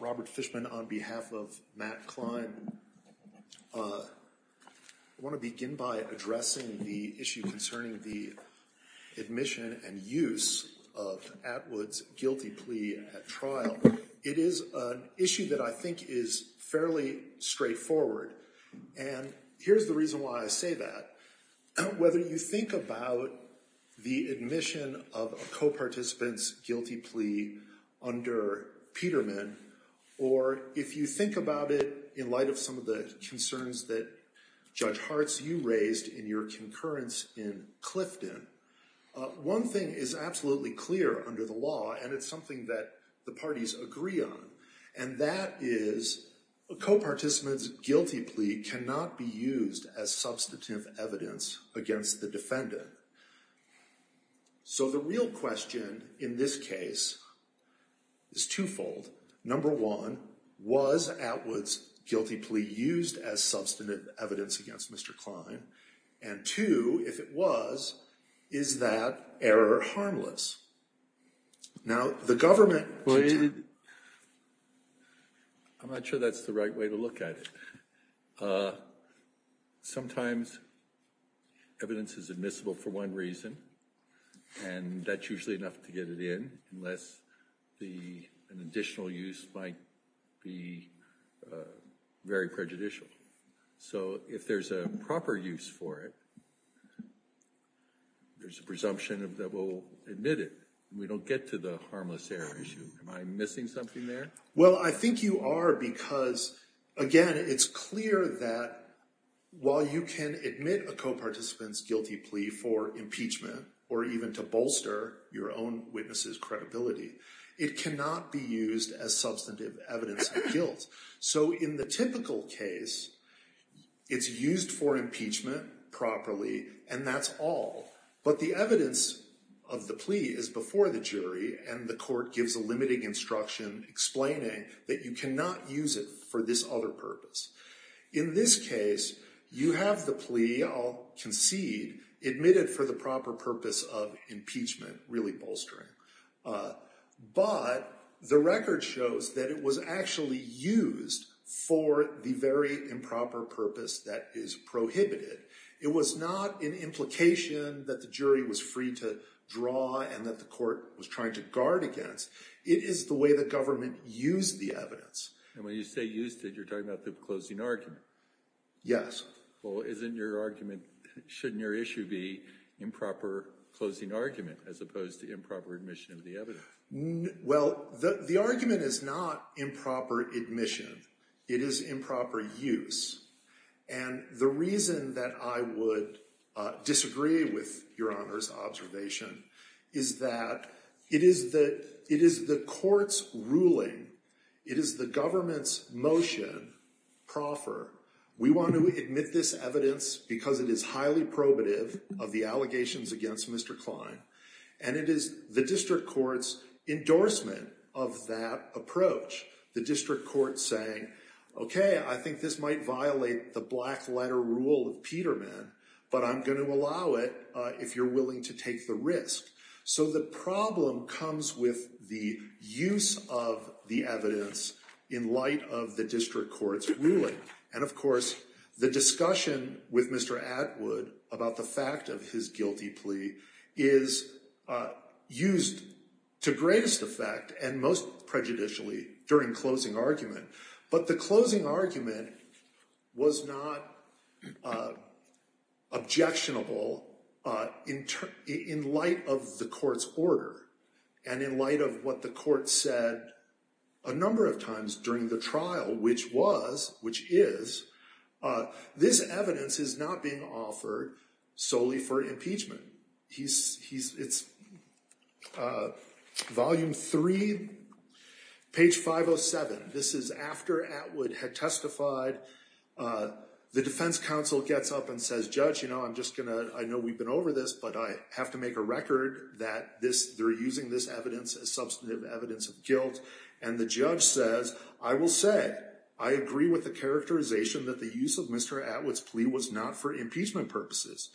Robert Fishman on behalf of Matt Cline. I want to begin by addressing the issue concerning the admission and use of Atwood's guilty plea at trial. It is an issue that I think is fairly straightforward and here's the reason why I say that. Whether you think about the admission of a co-participant's guilty plea under Peterman or if you think about it in light of some of the concerns that Judge Hartz you raised in your concurrence in Clifton, one thing is absolutely clear under the law and it's something that the parties agree on and that is a co-participant's guilty plea cannot be used as substantive evidence against the defendant. So the real question in this case is twofold. Number one, was Atwood's guilty plea used as substantive evidence against Mr. Cline? And two, if it was, is that error harmless? Now the government... I'm not sure that's the right way to look at it. Sometimes evidence is admissible for one reason and that's usually enough to get it in unless an additional use might be very prejudicial. So if there's a proper use for it, there's a presumption that we'll admit it. We don't get to the harmless error issue. Am I missing something there? Well I think you are because again it's clear that while you can admit a co-participant's guilty plea for impeachment or even to bolster your own witness's credibility, it cannot be used as substantive evidence of guilt. So in the typical case, it's used for impeachment properly and that's all. But the evidence of the plea is before the jury and the court gives a limiting instruction explaining that you cannot use it for this other purpose. In this case, you have the plea, I'll concede, admitted for the proper purpose of impeachment, really bolstering. But the record shows that it was actually used for the very improper purpose that is prohibited. It was not an implication that the jury was free to draw and that the court was trying to guard against. It is the way the government used the evidence. And when you say used it, you're talking about the closing argument. Yes. Well isn't your argument, shouldn't your be improper closing argument as opposed to improper admission of the evidence? Well the argument is not improper admission. It is improper use. And the reason that I would disagree with your honor's observation is that it is the court's ruling, it is the government's motion, proffer. We want to get this evidence because it is highly probative of the allegations against Mr. Klein and it is the district court's endorsement of that approach. The district court saying, okay I think this might violate the black letter rule of Peterman, but I'm going to allow it if you're willing to take the risk. So the problem comes with the use of the evidence in light of the district court's ruling. And of course the discussion with Mr. Atwood about the fact of his guilty plea is used to greatest effect and most prejudicially during closing argument. But the closing argument was not objectionable in light of the court's order and in light of what the court said a number of times during the trial, which was, which is, this evidence is not being offered solely for impeachment. It's volume three, page 507. This is after Atwood had testified. The defense council gets up and says, judge you know I'm just gonna, I know we've been over this, but I have to make a that this, they're using this evidence as substantive evidence of guilt. And the judge says, I will say I agree with the characterization that the use of Mr. Atwood's plea was not for impeachment purposes.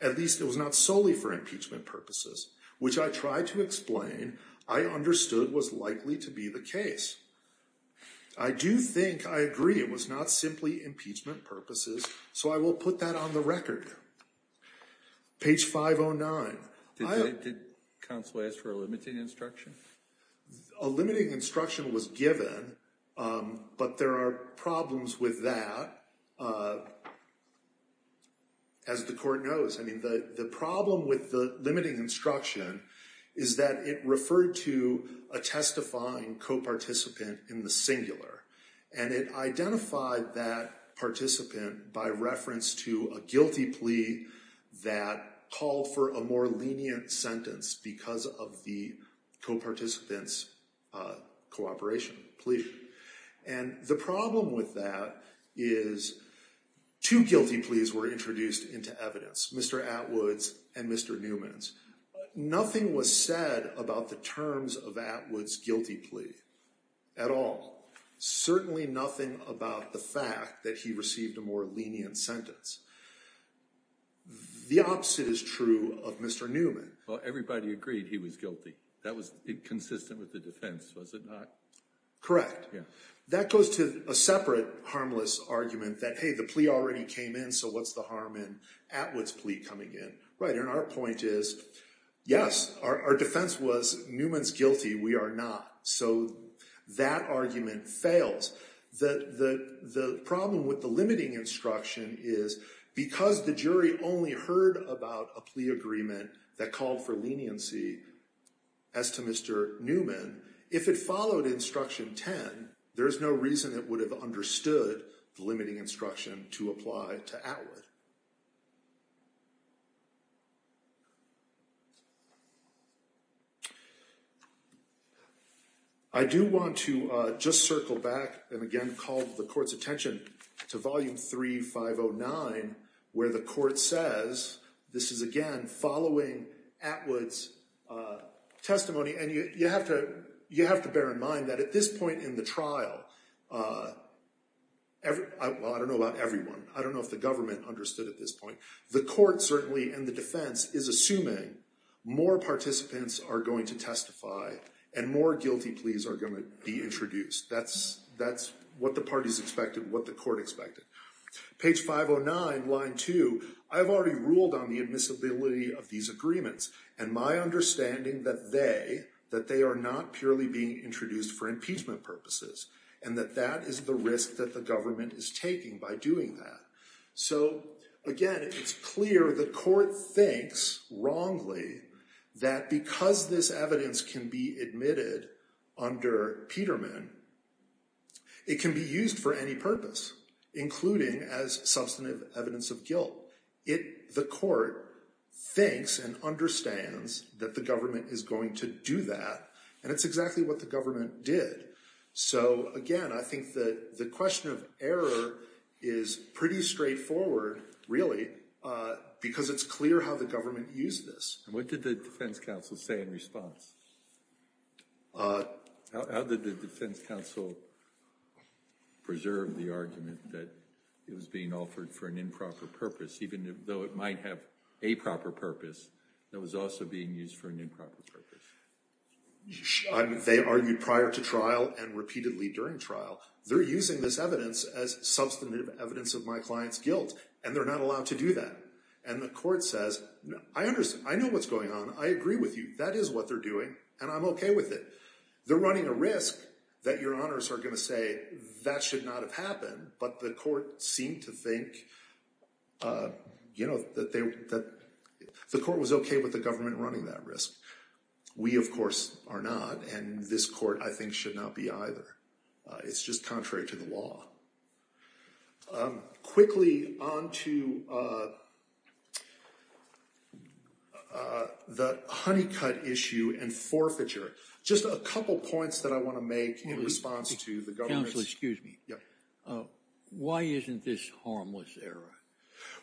At least it was not solely for impeachment purposes, which I tried to explain, I understood was likely to be the case. I do think I agree it was not simply impeachment purposes, so I will put that on the record. Page 509. Did counsel ask for a limiting instruction? A limiting instruction was given, but there are problems with that. As the court knows, I mean the the problem with the limiting instruction is that it referred to a testifying co-participant in the singular, and it identified that participant by reference to a guilty plea that called for a more lenient sentence because of the co-participant's cooperation, plea. And the problem with that is two guilty pleas were introduced into evidence, Mr. Atwood's and Mr. Newman's. Nothing was said about the terms of Atwood's guilty plea at all. Certainly nothing about the fact that he received a more lenient sentence. The opposite is true of Mr. Newman. Well, everybody agreed he was guilty. That was consistent with the defense, was it not? Correct. Yeah. That goes to a separate harmless argument that, hey, the plea already came in, so what's the harm in Atwood's plea coming in? Right. And our point is, yes, our defense was Newman's guilty. We are not. So that argument fails. The problem with the limiting instruction is because the jury only heard about a plea agreement that called for leniency as to Mr. Newman, if it followed instruction 10, there's no reason it would have understood the limiting instruction to apply to Atwood. I do want to just circle back and again call the court's attention to volume 3509, where the court says this is, again, following Atwood's testimony. And you have to bear in mind that at this point in the trial, I don't know about everyone, I don't know if the government understood at this point, the court certainly and the defense is assuming more participants are going to testify and more guilty pleas are going to be introduced. That's what the parties expected, what the court expected. Page 509, line 2, I've already ruled on the admissibility of these and my understanding that they, that they are not purely being introduced for impeachment purposes and that that is the risk that the government is taking by doing that. So again, it's clear the court thinks wrongly that because this evidence can be admitted under Peterman, it can be used for any purpose, including as substantive evidence of guilt. The court thinks and understands that the government is going to do that and it's exactly what the government did. So again, I think that the question of error is pretty straightforward, really, because it's clear how the government used this. And what did the defense counsel say in response? How did the defense counsel preserve the argument that it was being offered for an improper purpose that was also being used for an improper purpose? They argued prior to trial and repeatedly during trial. They're using this evidence as substantive evidence of my client's guilt and they're not allowed to do that. And the court says, I understand, I know what's going on. I agree with you. That is what they're doing and I'm okay with it. They're running a risk that your honors are going to say that should not have happened. But the court seemed to think that the court was okay with the government running that risk. We, of course, are not. And this court, I think, should not be either. It's just contrary to the law. Quickly on to the honeycut issue and forfeiture. Just a couple points that I want to make in response to the government. Counsel, excuse me. Why isn't this harmless error?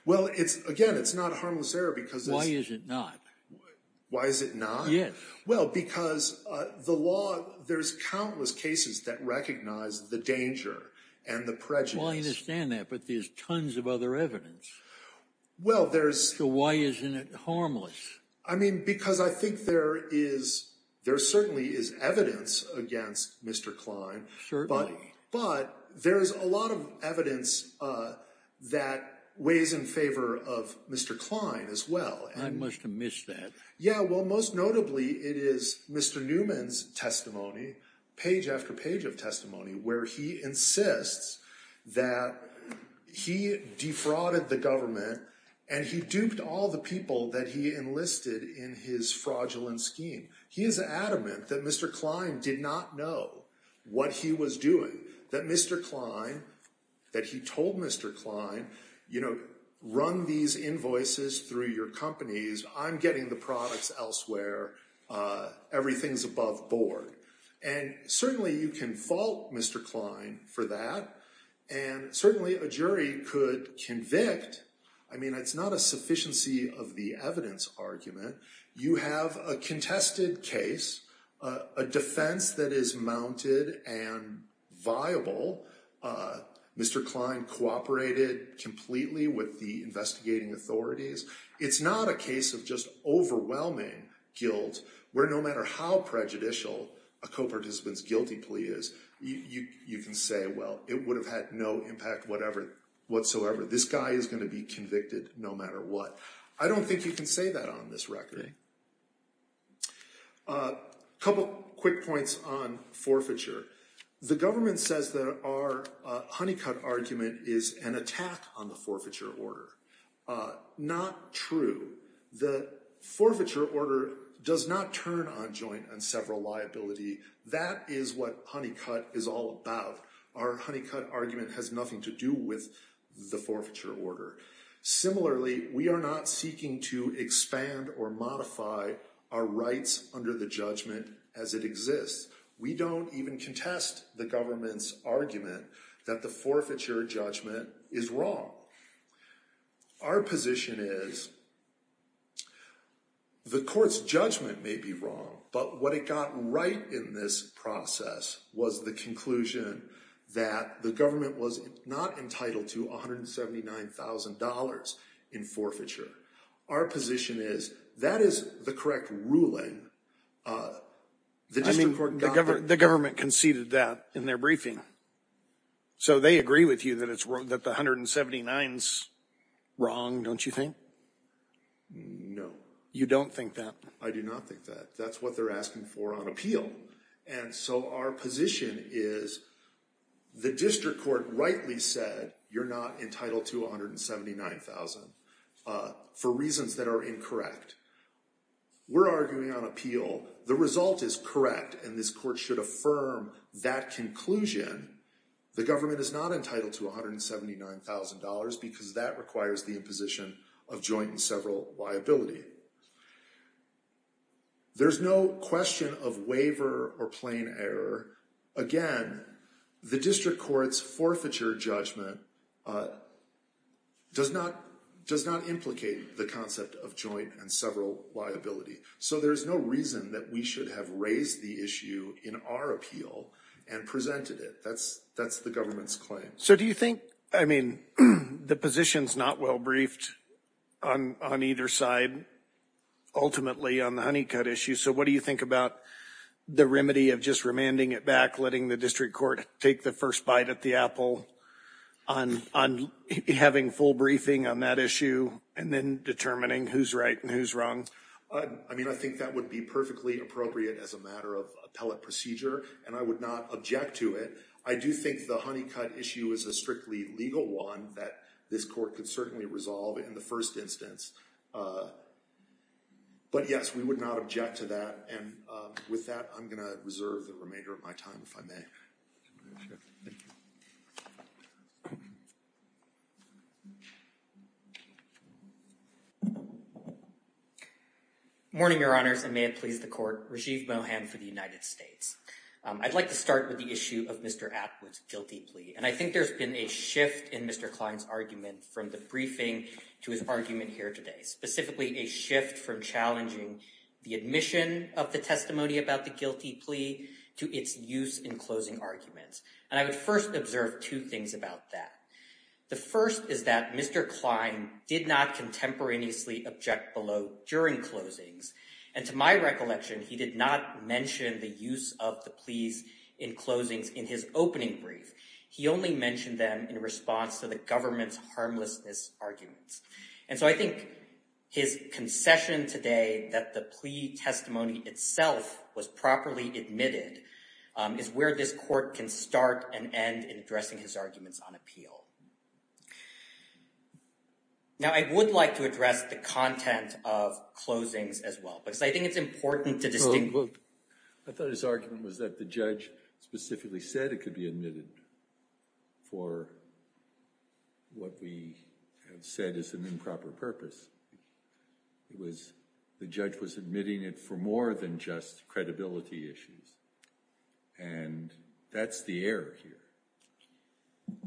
Well, again, it's not a harmless error because... Why is it not? Why is it not? Yes. Well, because the law, there's countless cases that recognize the danger and the prejudice. Well, I understand that, but there's tons of other evidence. Well, there's... So why isn't it harmless? I mean, because I think there certainly is evidence against Mr. Klein. But there's a lot of evidence that weighs in favor of Mr. Klein as well. I must have missed that. Yeah. Well, most notably, it is Mr. Newman's testimony, page after page of testimony, where he insists that he defrauded the government and he duped all the people that he enlisted in his fraudulent scheme. He is adamant that Mr. Klein did not know what he was doing, that Mr. Klein, that he told Mr. Klein, run these invoices through your companies. I'm getting the products elsewhere. Everything's above board. And certainly you can fault Mr. Klein for that. And certainly a jury could convict. I mean, it's not a sufficiency of the evidence argument. You have a contested case, a defense that is mounted and viable. Mr. Klein cooperated completely with the investigating authorities. It's not a case of just overwhelming guilt, where no matter how prejudicial a co-participant's guilty plea is, you can say, well, it would have had no impact whatsoever. This guy is going to be convicted no matter what. I don't think you can say that on this record. A couple quick points on forfeiture. The government says that our honeycut argument is an attack on the forfeiture order, not true. The forfeiture order does not turn on joint and several liability. That is what honeycut is all about. Our honeycut argument has nothing to do with the forfeiture order. Similarly, we are not seeking to expand or modify our rights under the judgment as it exists. We don't even contest the government's argument that the forfeiture judgment is wrong. Our position is the court's judgment may be wrong, but what it got right in this process was the conclusion that the government was not entitled to $179,000 in forfeiture. Our position is that is the correct ruling. The government conceded that in their briefing. So they agree with you that the $179,000 is wrong, don't you think? No. You don't think that? I do not think that. That's what they're asking for on appeal. And so our position is the district court rightly said, you're not entitled to $179,000 for reasons that are incorrect. We're arguing on appeal. The result is correct. And this court should affirm that conclusion. The government is not entitled to $179,000 because that requires the imposition of joint and several liability. There's no question of waiver or plain error. Again, the district court's forfeiture judgment does not implicate the concept of joint and several liability. So there's no reason that we should have raised the issue in our appeal and presented it. That's the government's claim. So do you think, I mean, the position's not well briefed on either side, ultimately on the honeycut issue. So what do you think about the remedy of just remanding it back, letting the district court take the first bite at the apple on having full briefing on that issue and then determining who's right and who's wrong? I mean, I think that would be perfectly appropriate as a matter of appellate procedure. And I would not object to it. I do think the honeycut issue is a strictly legal one that this court could certainly resolve in the first instance. But yes, we would not object to that. And with that, I'm going to reserve the remainder of my time, if I may. Thank you. Morning, Your Honors, and may it please the court. Rajiv Mohan for the United States. I'd like to start with the issue of Mr. Atwood's guilty plea. And I think there's been a shift in Mr. Klein's argument from the briefing to his argument here today, specifically a shift from challenging the admission of the testimony about the guilty plea to its use in closing arguments. And I would first observe two things about that. The first is that Mr. Klein did not contemporaneously object below during closings. And to my recollection, he did not mention the use of the pleas in closings in his opening brief. He only mentioned them in response to the government's harmlessness arguments. And so I think his concession today that the plea testimony itself was properly admitted is where this court can start and end in addressing his arguments on appeal. Now, I would like to address the content of closings as well, because I think it's important to distinguish... Well, I thought his argument was that the judge specifically said it could be admitted for what we have said is an improper purpose. It was the judge was admitting it for more than just credibility issues. And that's the error here.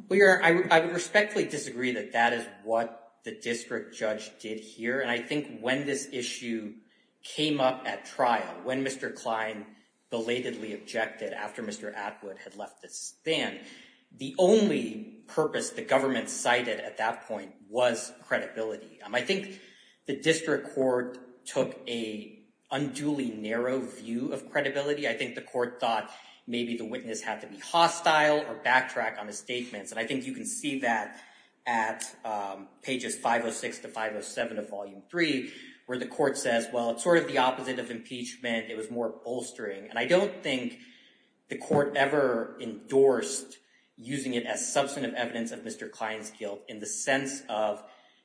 We are, I would respectfully disagree that that is what the district judge did here. And I think when this issue came up at trial, when Mr. Klein belatedly objected after Mr. Atwood had left the stand, the only purpose the government cited at that point was credibility. I think the district court took a unduly narrow view of credibility. I think the court thought maybe the witness had to be hostile or backtrack on his statements. And I think you can see that at pages 506 to 507 of volume three, where the court says, well, it's sort of the opposite of impeachment. It was more bolstering. And I don't think the court ever endorsed using it as substantive evidence of Mr. Klein's guilt in the sense of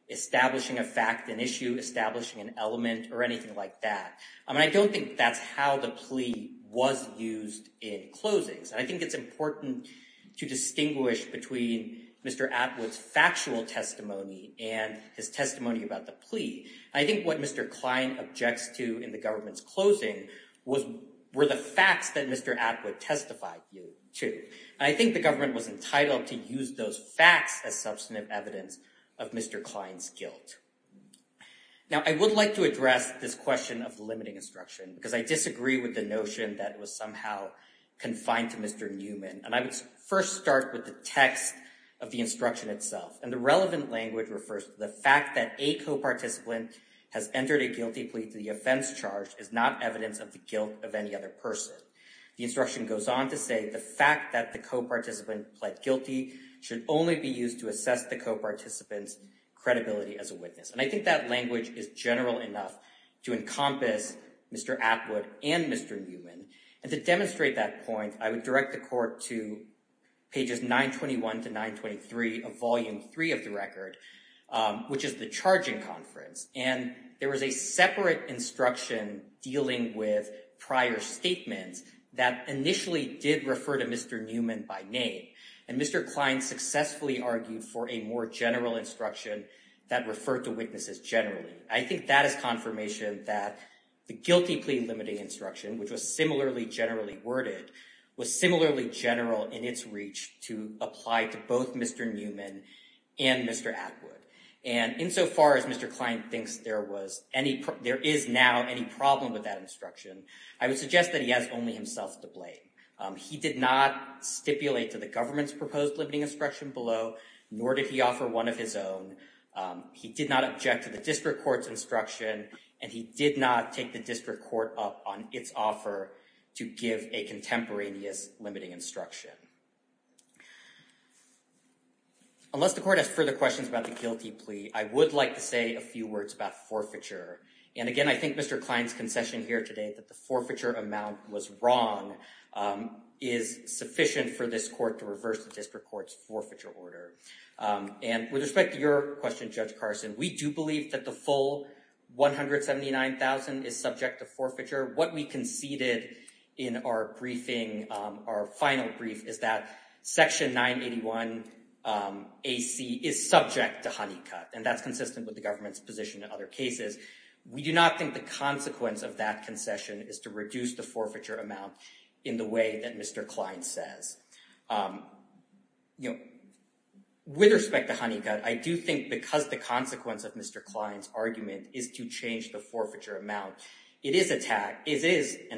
establishing a fact, an issue, establishing an element or anything like that. I mean, I don't think that's how the plea was used in closings. And I think it's important to distinguish between Mr. Atwood's factual testimony and his testimony about the plea. And I think what Mr. Klein objects to in the government's closing were the facts that Mr. Atwood testified to. And I think the government was entitled to use those facts as substantive evidence of Mr. Klein's guilt. Now, I would like to address this question of limiting instruction, because I disagree with the notion that it was somehow confined to Mr. Newman. And I would first start with the text of the instruction itself. And the relevant language refers to the fact that a co-participant has entered a guilty plea to the offense charge is not evidence of the guilt of any other person. The instruction goes on to say the fact that the co-participant pled guilty should only be used to assess the co-participant's credibility as a witness. And I think that language is general enough to encompass Mr. Atwood and Mr. Newman. And to demonstrate that point, I would direct the court to pages 921 to 923 of volume three of the record, which is the charging conference. And there was a separate instruction dealing with prior statements that initially did refer to Mr. Newman by name. And Mr. Klein successfully argued for a more general instruction that referred to witnesses generally. I think that is confirmation that the guilty plea limiting instruction, which was similarly generally worded, was similarly general in its reach to apply to both Mr. Newman and Mr. Atwood. And insofar as Mr. Klein thinks there is now any problem with that instruction, I would suggest that he has only himself to blame. He did not stipulate to the government's proposed limiting instruction below, nor did he offer one of his own. He did not object to the district court's instruction, and he did not take the district court up on its offer to give a contemporaneous limiting instruction. Unless the court has further questions about the guilty plea, I would like to say a few words about forfeiture. And again, I think Mr. Klein's concession here today that the forfeiture amount was wrong is sufficient for this court to reverse the district court's forfeiture order. And with respect to your question, Judge Carson, we do believe that the full $179,000 is subject to forfeiture. What we conceded in our briefing, our final brief, is that Section 981 AC is subject to honeycut, and that's consistent with the government's position in other cases. We do not think the consequence of that concession is to reduce the forfeiture amount in the way that Mr. Klein says. With respect to honeycut, I do think because the consequence of Mr. Klein's argument is to change the forfeiture amount, it is an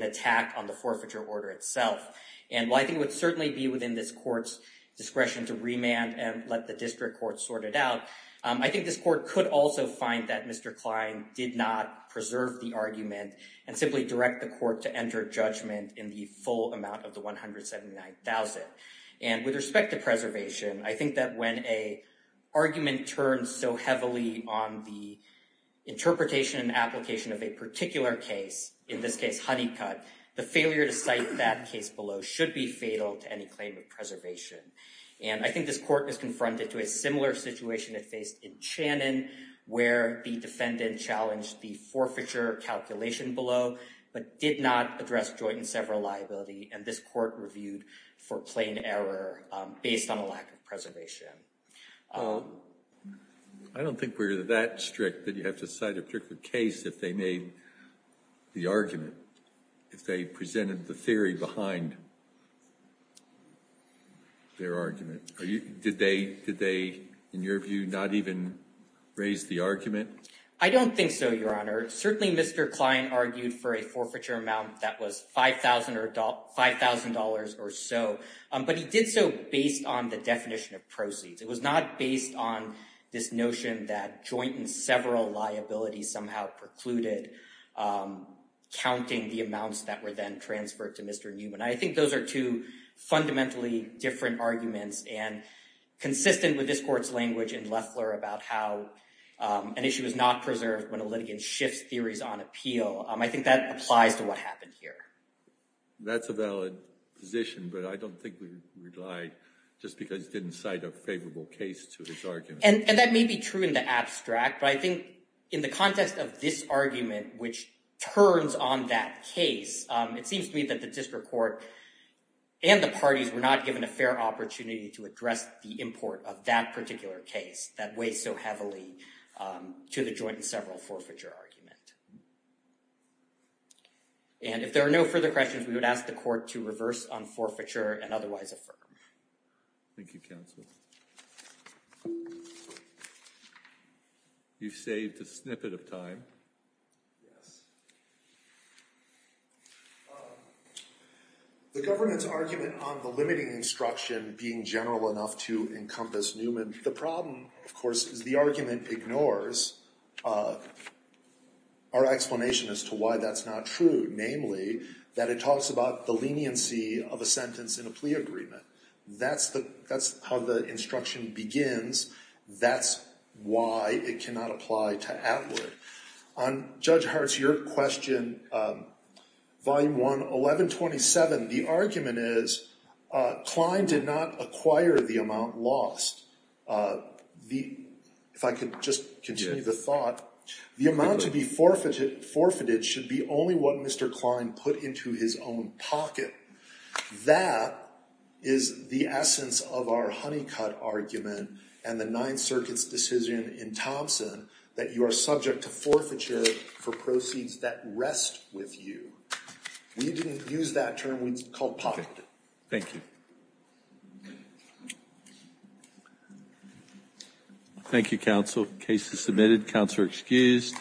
attack on the forfeiture order itself. And while I think it would certainly be within this court's discretion to remand and let the district court sort it out, I think this court could also find that Mr. Klein did not preserve the argument and simply direct the court to enter judgment in the full amount of the $179,000. And with respect to preservation, I think that when a argument turns so heavily on the interpretation and application of a particular case, in this case, honeycut, the failure to cite that case below should be fatal to any claim of preservation. And I think this court is confronted to a similar situation it faced in Channon, where the defendant challenged the forfeiture calculation below, but did not address joint and several liability. And this court reviewed for plain error based on a lack of preservation. I don't think we're that strict that you have to cite a particular case if they made the argument, if they presented the theory behind their argument. Did they, in your view, not even raise the argument? I don't think so, Your Honor. Certainly Mr. Klein argued for a forfeiture amount that was $5,000 or so, but he did so based on the definition of proceeds. It was not based on this notion that joint and several liabilities somehow precluded counting the amounts that were then transferred to Mr. Newman. I think those are two fundamentally different arguments and consistent with this court's language in Loeffler about how an issue is not preserved when a litigant shifts theories on appeal. I think that applies to what happened here. That's a valid position, but I don't think we relied just because you didn't cite a favorable case to this argument. And that may be true in the abstract, but I think in the context of this argument, which turns on that case, it seems to me that the district court and the parties were not given a fair opportunity to address the import of that particular case that weighs so heavily to the joint and several forfeiture argument. And if there are no further questions, we would ask the court to reverse on forfeiture and otherwise affirm. Thank you, counsel. You've saved a snippet of time. Yes. The government's argument on the limiting instruction being general enough to encompass Newman. The problem, of course, is the argument ignores our explanation as to why that's not true. Namely, that it talks about the leniency of a sentence in a plea agreement. That's how the instruction begins. That's why it cannot apply to Atwood. On Judge Hart's, your question, Volume 1, 1127, the argument is Klein did not acquire the amount lost. If I could just continue the thought. The amount to be forfeited should be only what Mr. Klein put into his own pocket. That is the essence of our honeycut argument and the Ninth Circuit's decision in Thompson that you are subject to forfeiture for proceeds that rest with you. We didn't use that term. It's called poverty. Thank you. Thank you, counsel. Case is submitted. Counselor excused.